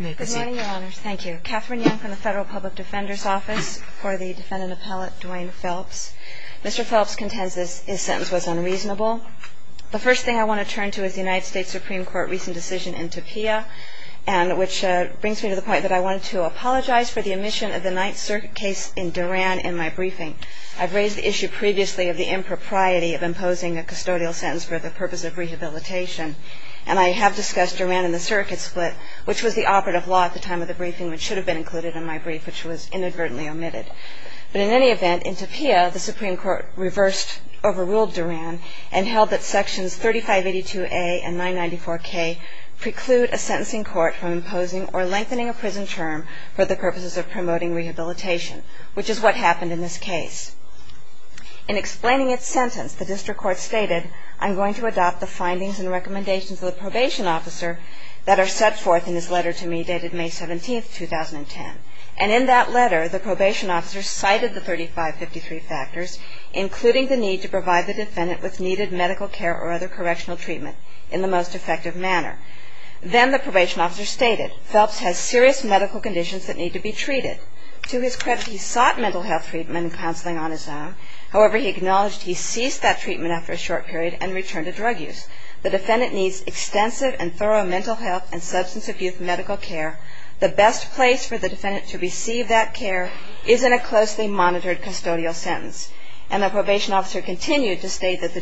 Good morning, your honors. Thank you. Katherine Young from the Federal Public Defender's Office for the defendant appellate Dwayne Phelps. Mr. Phelps contends his sentence was unreasonable. The first thing I want to turn to is the United States Supreme Court recent decision in Topia, which brings me to the point that I wanted to apologize for the omission of the Ninth Circuit case in Duran in my briefing. I've raised the issue previously of the impropriety of imposing a custodial sentence for the purpose of rehabilitation, and I have discussed Duran in the circuit split, which was the operative law at the time of the briefing, which should have been included in my brief, which was inadvertently omitted. But in any event, in Topia, the Supreme Court reversed, overruled Duran and held that Sections 3582A and 994K preclude a sentencing court from imposing or lengthening a prison term for the purposes of promoting rehabilitation, which is what happened in this case. In explaining its sentence, the district court stated, I'm going to adopt the findings and recommendations of the probation officer that are set forth in his letter to me dated May 17, 2010. And in that letter, the probation officer cited the 3553 factors, including the need to provide the defendant with needed medical care or other correctional treatment in the most effective manner. Then the probation officer stated, Phelps has serious medical conditions that need to be treated. To his credit, he sought mental health treatment and counseling on his own. However, he acknowledged he ceased that treatment after a short period and returned to drug use. The defendant needs extensive and thorough mental health and substance abuse medical care. The best place for the defendant to receive that care is in a closely monitored custodial sentence. And the probation officer continued to state that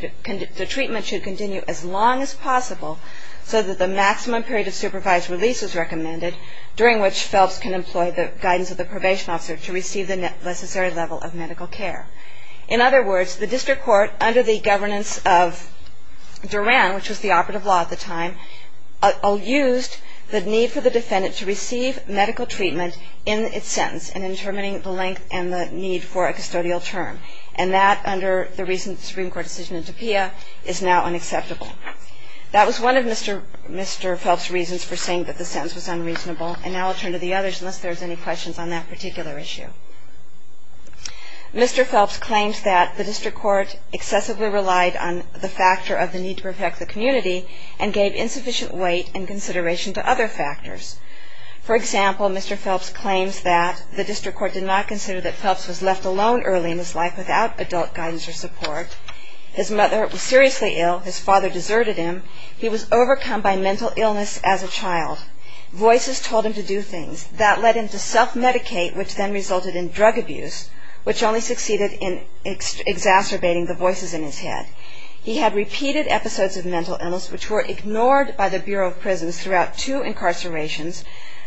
the treatment should continue as long as possible so that the maximum period of supervised release is recommended, during which Phelps can employ the guidance of the probation officer to receive the necessary level of medical care. In other words, the district court, under the governance of Duran, which was the operative law at the time, used the need for the defendant to receive medical treatment in its sentence in determining the length and the need for a custodial term. And that, under the recent Supreme Court decision in Topia, is now unacceptable. That was one of Mr. Phelps' reasons for saying that the sentence was unreasonable. And now I'll turn to the others, unless there's any questions on that particular issue. Mr. Phelps claims that the district court excessively relied on the factor of the need to protect the community and gave insufficient weight and consideration to other factors. For example, Mr. Phelps claims that the district court did not consider that Phelps was left alone early in his life without adult guidance or support. His mother was seriously ill. His father deserted him. He was overcome by mental illness as a child. Voices told him to do things. That led him to self-medicate, which then resulted in drug abuse, which only succeeded in exacerbating the voices in his head. He had repeated episodes of mental illness, which were ignored by the Bureau of Prisons throughout two incarcerations,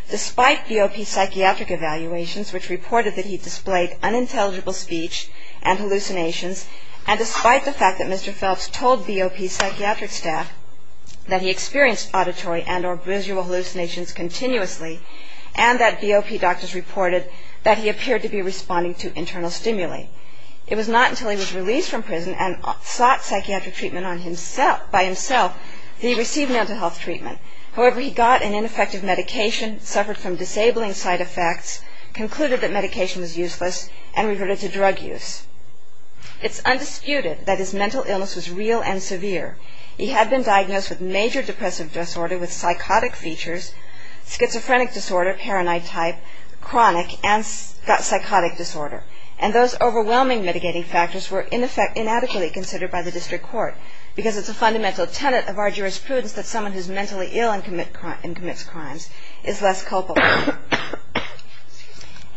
despite BOP psychiatric evaluations, which reported that he displayed unintelligible speech and hallucinations, and despite the fact that Mr. Phelps told BOP psychiatric staff that he experienced auditory and or visual hallucinations continuously and that BOP doctors reported that he appeared to be responding to internal stimuli. It was not until he was released from prison and sought psychiatric treatment by himself that he received mental health treatment. However, he got an ineffective medication, suffered from disabling side effects, concluded that medication was useless, and reverted to drug use. It's undisputed that his mental illness was real and severe. He had been diagnosed with major depressive disorder with psychotic features, schizophrenic disorder, paranoid type, chronic, and psychotic disorder, and those overwhelming mitigating factors were in effect inadequately considered by the district court because it's a fundamental tenet of our jurisprudence that someone who's mentally ill and commits crimes is less culpable.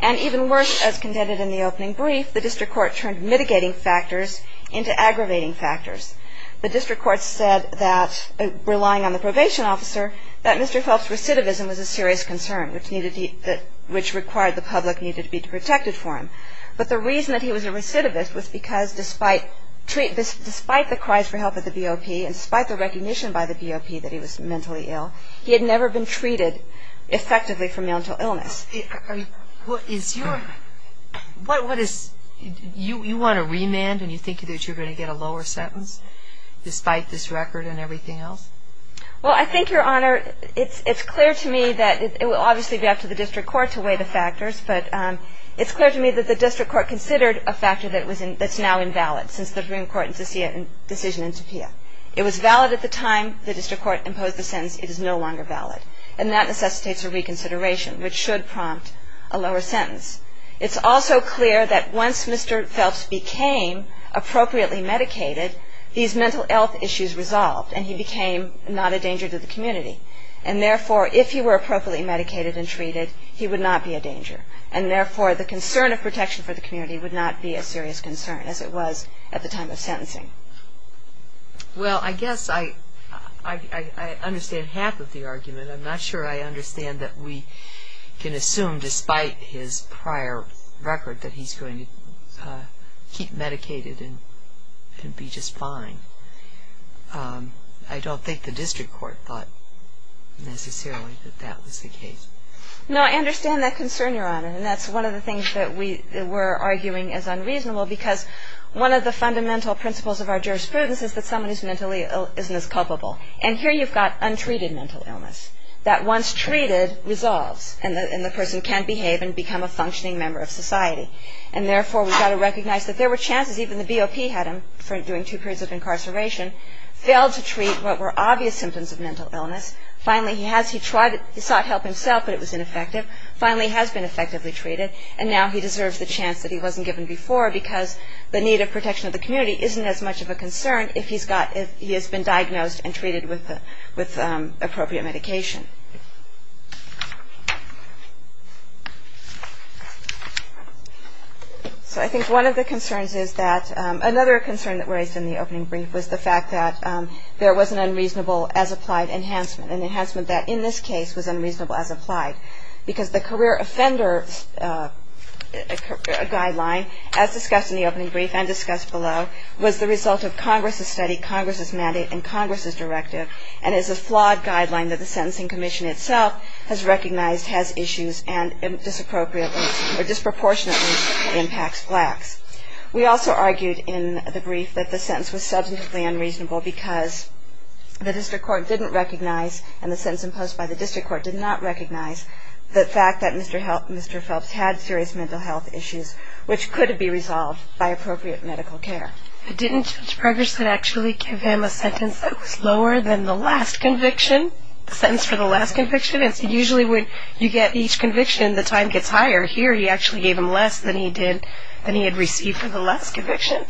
And even worse, as contended in the opening brief, the district court turned mitigating factors into aggravating factors. The district court said that, relying on the probation officer, that Mr. Phelps' recidivism was a serious concern, which required the public needed to be protected for him. But the reason that he was a recidivist was because despite the cries for help at the BOP and despite the recognition by the BOP that he was mentally ill, he had never been treated effectively for mental illness. What is your, what is, you want a remand and you think that you're going to get a lower sentence, despite this record and everything else? Well, I think, Your Honor, it's clear to me that, it will obviously be up to the district court to weigh the factors, but it's clear to me that the district court considered a factor that's now invalid, since the Supreme Court decision in Topia. It was valid at the time the district court imposed the sentence. It is no longer valid. And that necessitates a reconsideration, which should prompt a lower sentence. It's also clear that once Mr. Phelps became appropriately medicated, these mental health issues resolved and he became not a danger to the community. And therefore, if he were appropriately medicated and treated, he would not be a danger. And therefore, the concern of protection for the community would not be a serious concern, as it was at the time of sentencing. Well, I guess I understand half of the argument. I'm not sure I understand that we can assume, despite his prior record, that he's going to keep medicated and be just fine. I don't think the district court thought necessarily that that was the case. No, I understand that concern, Your Honor. And that's one of the things that we're arguing as unreasonable, because one of the fundamental principles of our jurisprudence is that someone who's mentally ill isn't as culpable. And here you've got untreated mental illness that, once treated, resolves, and the person can behave and become a functioning member of society. And therefore, we've got to recognize that there were chances, even the BOP had him during two periods of incarceration, failed to treat what were obvious symptoms of mental illness. Finally, he sought help himself, but it was ineffective. Finally, he has been effectively treated, and now he deserves the chance that he wasn't given before, because the need of protection of the community isn't as much of a concern if he has been diagnosed and treated with appropriate medication. So I think one of the concerns is that another concern that was raised in the opening brief was the fact that there was an unreasonable as applied enhancement, an enhancement that, in this case, was unreasonable as applied, because the career offender guideline, as discussed in the opening brief and discussed below, was the result of Congress's study, Congress's mandate, and Congress's directive, and is a flawed guideline that the Sentencing Commission itself has recognized has issues and disproportionately impacts blacks. We also argued in the brief that the sentence was substantively unreasonable because the district court didn't recognize, and the sentence imposed by the district court did not recognize, the fact that Mr. Phelps had serious mental health issues, which could be resolved by appropriate medical care. But didn't Judge Preggerson actually give him a sentence that was lower than the last conviction, a sentence for the last conviction? Usually when you get each conviction, the time gets higher. Here he actually gave him less than he did, than he had received for the last conviction.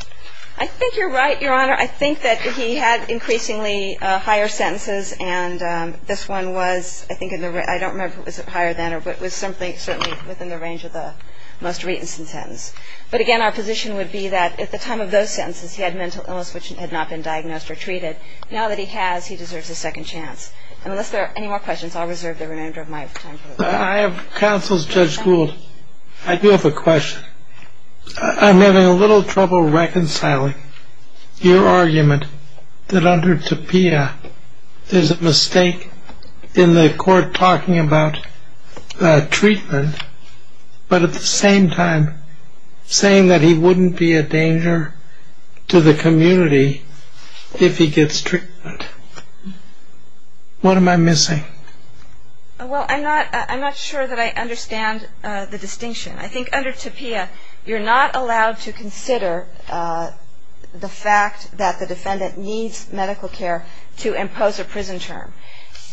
I think you're right, Your Honor. Your Honor, I think that he had increasingly higher sentences, and this one was, I think, I don't remember if it was higher than or it was something certainly within the range of the most recent sentence. But, again, our position would be that at the time of those sentences, he had mental illness which had not been diagnosed or treated. Now that he has, he deserves a second chance. And unless there are any more questions, I'll reserve the remainder of my time. I have counsels, Judge Gould. I do have a question. I'm having a little trouble reconciling. Your argument that under TAPIA, there's a mistake in the court talking about treatment, but at the same time saying that he wouldn't be a danger to the community if he gets treatment. What am I missing? Well, I'm not sure that I understand the distinction. I think under TAPIA, you're not allowed to consider the fact that the defendant needs medical care to impose a prison term.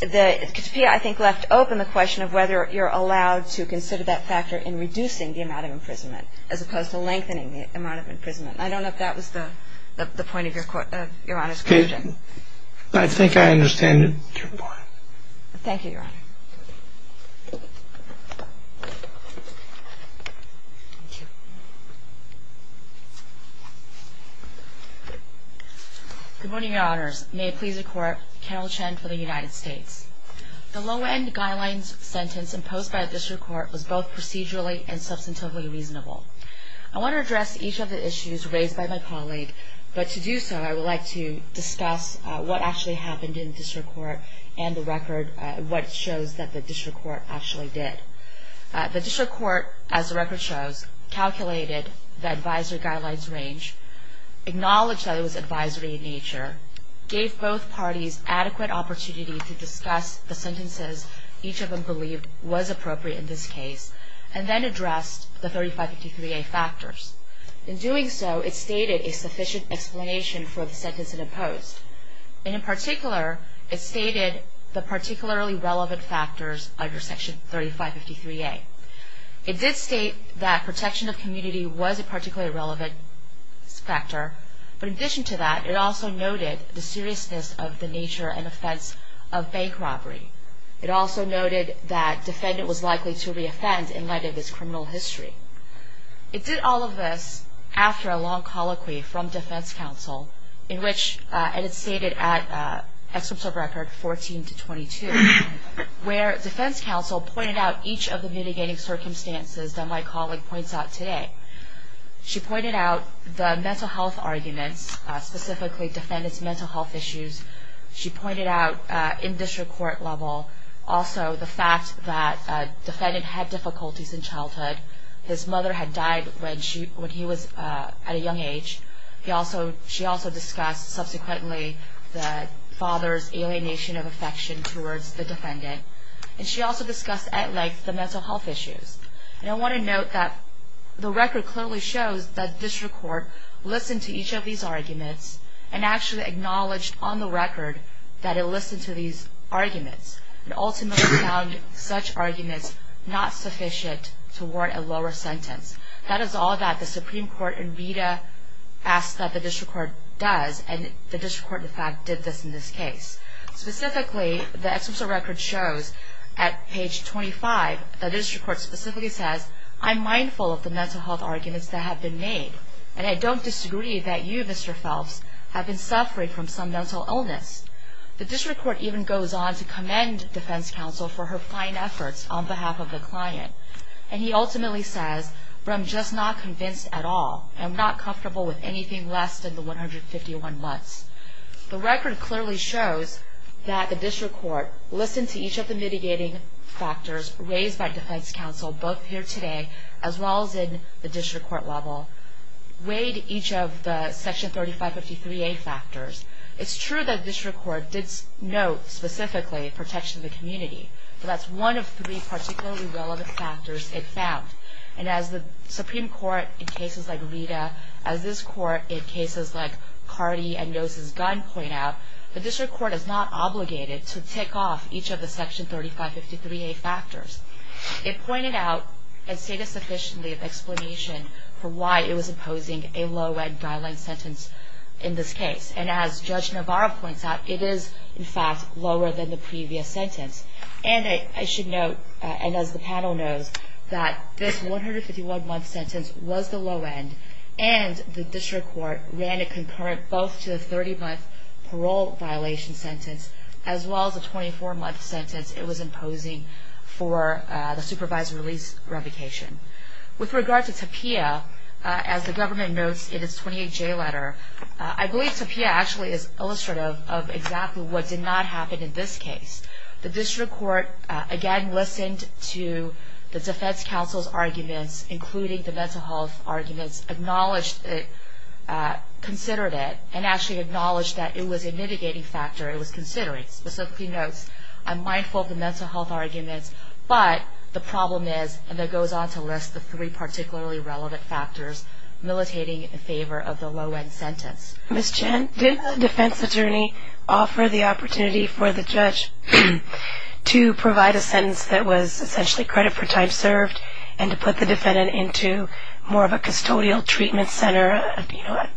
TAPIA, I think, left open the question of whether you're allowed to consider that factor in reducing the amount of imprisonment as opposed to lengthening the amount of imprisonment. I don't know if that was the point of Your Honor's question. I think I understand your point. Thank you, Your Honor. Thank you. Good morning, Your Honors. May it please the Court, Carol Chen for the United States. The low-end guidelines sentence imposed by the District Court was both procedurally and substantively reasonable. I want to address each of the issues raised by my colleague, but to do so, I would like to discuss what actually happened in the District Court and the record, what shows that the District Court actually did. The District Court, as the record shows, calculated the advisory guidelines range, acknowledged that it was advisory in nature, gave both parties adequate opportunity to discuss the sentences each of them believed was appropriate in this case, and then addressed the 3553A factors. In doing so, it stated a sufficient explanation for the sentence it imposed, and in particular, it stated the particularly relevant factors under Section 3553A. It did state that protection of community was a particularly relevant factor, but in addition to that, it also noted the seriousness of the nature and offense of bank robbery. It also noted that defendant was likely to reoffend in light of his criminal history. It did all of this after a long colloquy from defense counsel in which it is stated at Excerpt of Record 14-22, where defense counsel pointed out each of the mitigating circumstances that my colleague points out today. She pointed out the mental health arguments, specifically defendant's mental health issues. She pointed out in District Court level also the fact that defendant had difficulties in childhood. His mother had died when he was at a young age. She also discussed subsequently the father's alienation of affection towards the defendant. And she also discussed at length the mental health issues. And I want to note that the record clearly shows that District Court listened to each of these arguments and actually acknowledged on the record that it listened to these arguments and ultimately found such arguments not sufficient to warrant a lower sentence. That is all that the Supreme Court in Rita asks that the District Court does. And the District Court, in fact, did this in this case. Specifically, the Excerpt of Record shows at page 25 that District Court specifically says, I'm mindful of the mental health arguments that have been made. And I don't disagree that you, Mr. Phelps, have been suffering from some mental illness. The District Court even goes on to commend defense counsel for her fine efforts on behalf of the client. And he ultimately says, but I'm just not convinced at all. I'm not comfortable with anything less than the 151 months. The record clearly shows that the District Court listened to each of the mitigating factors raised by defense counsel, both here today as well as in the District Court level, weighed each of the Section 3553A factors. It's true that District Court did note specifically protection of the community. But that's one of three particularly relevant factors it found. And as the Supreme Court in cases like Rita, as this Court in cases like Cardi and Yosef's gun point out, the District Court is not obligated to tick off each of the Section 3553A factors. It pointed out and stated sufficiently of explanation for why it was imposing a low-end guideline sentence in this case. And as Judge Navarro points out, it is, in fact, lower than the previous sentence. And I should note, and as the panel knows, that this 151-month sentence was the low end, and the District Court ran a concurrent both to the 30-month parole violation sentence as well as the 24-month sentence it was imposing for the supervisor release revocation. With regard to TAPIA, as the government notes in its 28-J letter, I believe TAPIA actually is illustrative of exactly what did not happen in this case. The District Court, again, listened to the defense counsel's arguments, including the mental health arguments, acknowledged it, considered it, and actually acknowledged that it was a mitigating factor, it was considering. It specifically notes, I'm mindful of the mental health arguments, but the problem is, and it goes on to list the three particularly relevant factors, mitigating in favor of the low-end sentence. Ms. Chen, did the defense attorney offer the opportunity for the judge to provide a sentence that was essentially credit for time served and to put the defendant into more of a custodial treatment center, an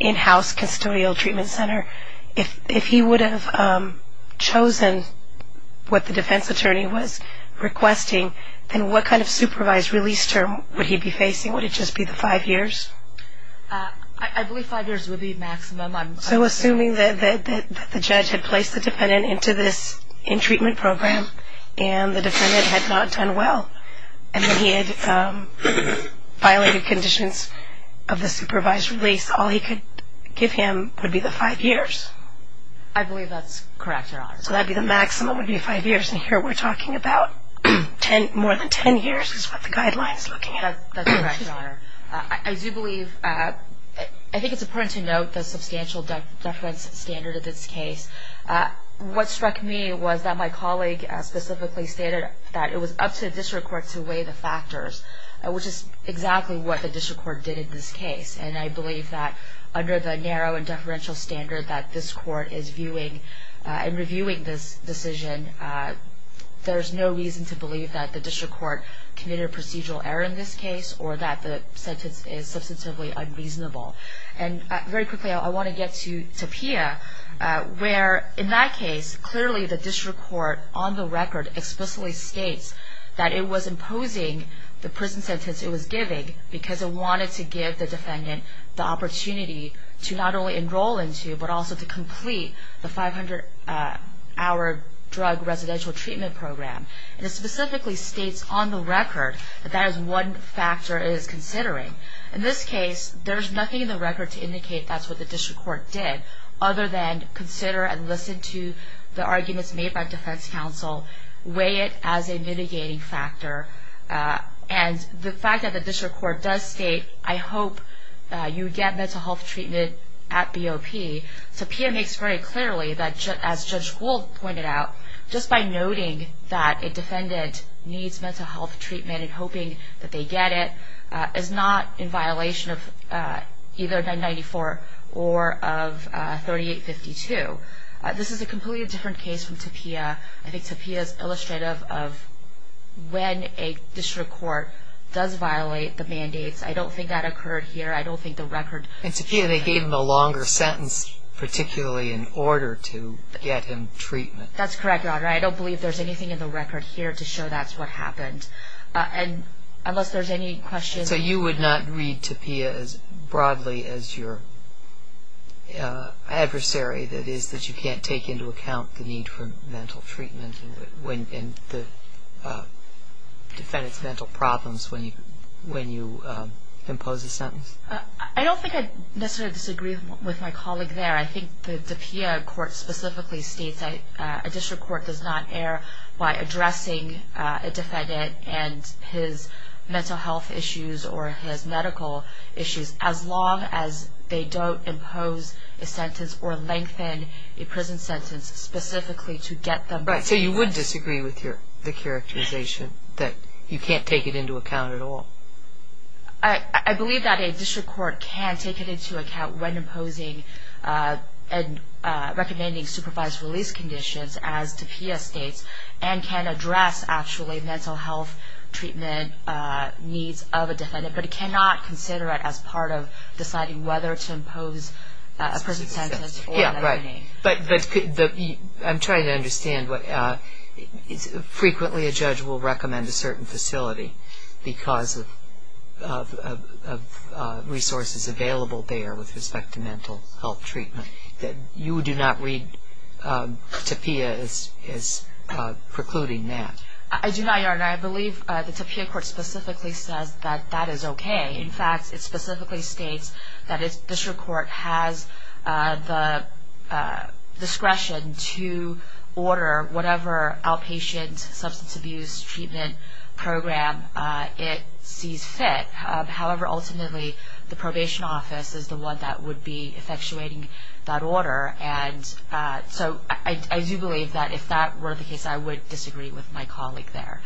in-house custodial treatment center? If he would have chosen what the defense attorney was requesting, then what kind of supervised release term would he be facing? Would it just be the five years? I believe five years would be maximum. So assuming that the judge had placed the defendant into this in-treatment program and the defendant had not done well and that he had violated conditions of the supervised release, all he could give him would be the five years? I believe that's correct, Your Honor. So that would be the maximum, would be five years. And here we're talking about more than ten years is what the guideline is looking at. That's correct, Your Honor. I do believe, I think it's important to note the substantial deference standard of this case. What struck me was that my colleague specifically stated that it was up to the district court to weigh the factors, which is exactly what the district court did in this case. And I believe that under the narrow and deferential standard that this court is viewing and reviewing this decision, there's no reason to believe that the district court committed a procedural error in this case or that the sentence is substantively unreasonable. And very quickly, I want to get to Pia, where in that case, clearly the district court on the record explicitly states that it was imposing the prison sentence it was giving because it wanted to give the defendant the opportunity to not only enroll into but also to complete the 500-hour drug residential treatment program. And it specifically states on the record that that is one factor it is considering. In this case, there's nothing in the record to indicate that's what the district court did other than consider and listen to the arguments made by defense counsel, weigh it as a mitigating factor. And the fact that the district court does state, I hope you get mental health treatment at BOP, so Pia makes very clearly that, as Judge Gould pointed out, just by noting that a defendant needs mental health treatment and hoping that they get it is not in violation of either 994 or of 3852. This is a completely different case from to Pia. I think to Pia is illustrative of when a district court does violate the mandates. I don't think that occurred here. I don't think the record. And to Pia, they gave him a longer sentence, particularly in order to get him treatment. That's correct, Your Honor. I don't believe there's anything in the record here to show that's what happened. And unless there's any questions. So you would not read to Pia as broadly as your adversary, that is that you can't take into account the need for mental treatment and the defendant's mental problems when you impose a sentence? I don't think I'd necessarily disagree with my colleague there. I think that to Pia court specifically states that a district court does not err by addressing a defendant and his mental health issues or his medical issues as long as they don't impose a sentence or lengthen a prison sentence specifically to get them. Right. So you would disagree with the characterization that you can't take it into account at all? I believe that a district court can take it into account when imposing and recommending supervised release conditions as to Pia states but it cannot consider it as part of deciding whether to impose a prison sentence. Yeah, right. But I'm trying to understand. Frequently a judge will recommend a certain facility because of resources available there with respect to mental health treatment. You do not read to Pia as precluding that? I do not, Your Honor. I believe that to Pia court specifically says that that is okay. In fact, it specifically states that a district court has the discretion to order whatever outpatient substance abuse treatment program it sees fit. However, ultimately the probation office is the one that would be effectuating that order. So I do believe that if that were the case, I would disagree with my colleague there.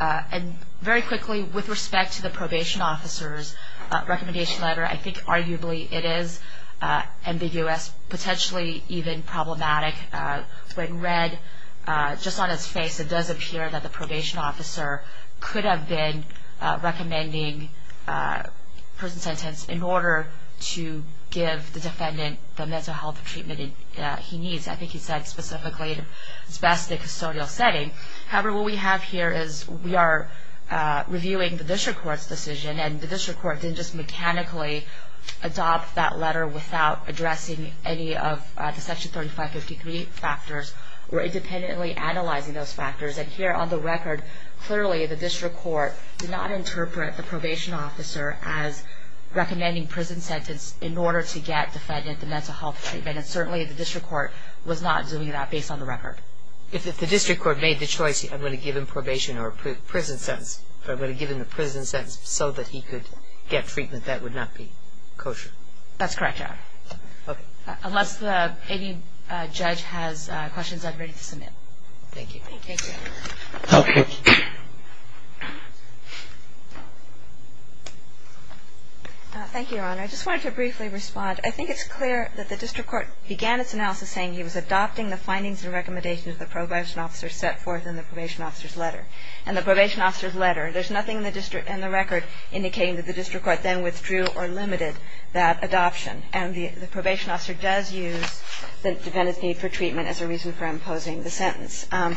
And very quickly, with respect to the probation officer's recommendation letter, I think arguably it is ambiguous, potentially even problematic. When read just on its face, it does appear that the probation officer could have been recommending prison sentence in order to give the defendant the mental health treatment he needs. I think he said specifically it's best in a custodial setting. However, what we have here is we are reviewing the district court's decision, and the district court didn't just mechanically adopt that letter without addressing any of the Section 3553 factors or independently analyzing those factors. And here on the record, clearly the district court did not interpret the probation officer as recommending prison sentence in order to get defendant the mental health treatment. And certainly the district court was not doing that based on the record. If the district court made the choice, I'm going to give him probation or prison sentence. If I'm going to give him the prison sentence so that he could get treatment, that would not be kosher. That's correct, Your Honor. Okay. Unless any judge has questions, I'm ready to submit. Thank you. Thank you. Okay. Thank you, Your Honor. I just wanted to briefly respond. I think it's clear that the district court began its analysis saying he was adopting the findings and recommendations the probation officer set forth in the probation officer's letter. In the probation officer's letter, there's nothing in the record indicating that the district court then withdrew or limited that adoption. And the probation officer does use the defendant's need for treatment as a reason for imposing the sentence. And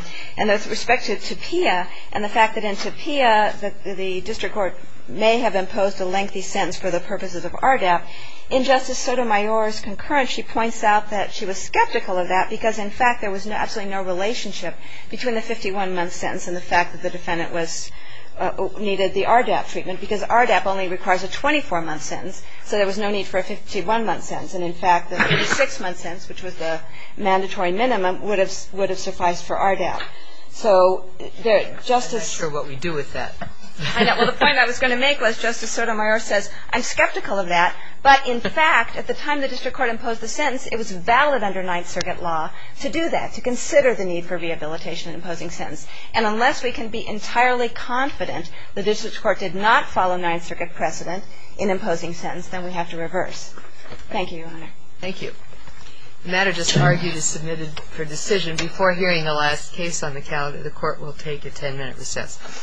with respect to TAPIA and the fact that in TAPIA the district court may have imposed a lengthy sentence for the purposes of RDAP, in Justice Sotomayor's concurrence, she points out that she was skeptical of that because, in fact, there was absolutely no relationship between the 51-month sentence and the fact that the defendant was needed the RDAP treatment because RDAP only requires a 24-month sentence. So there was no need for a 51-month sentence. And, in fact, the 56-month sentence, which was the mandatory minimum, would have sufficed for RDAP. So Justice ‑‑ I'm not sure what we do with that. I know. Well, the point I was going to make was Justice Sotomayor says, I'm skeptical of that. But, in fact, at the time the district court imposed the sentence, it was valid under Ninth Circuit law to do that, to consider the need for rehabilitation in imposing sentence. And unless we can be entirely confident the district court did not follow Ninth Circuit precedent in imposing sentence, then we have to reverse. Thank you, Your Honor. Thank you. The matter just argued is submitted for decision. Before hearing the last case on the calendar, the court will take a ten-minute recess.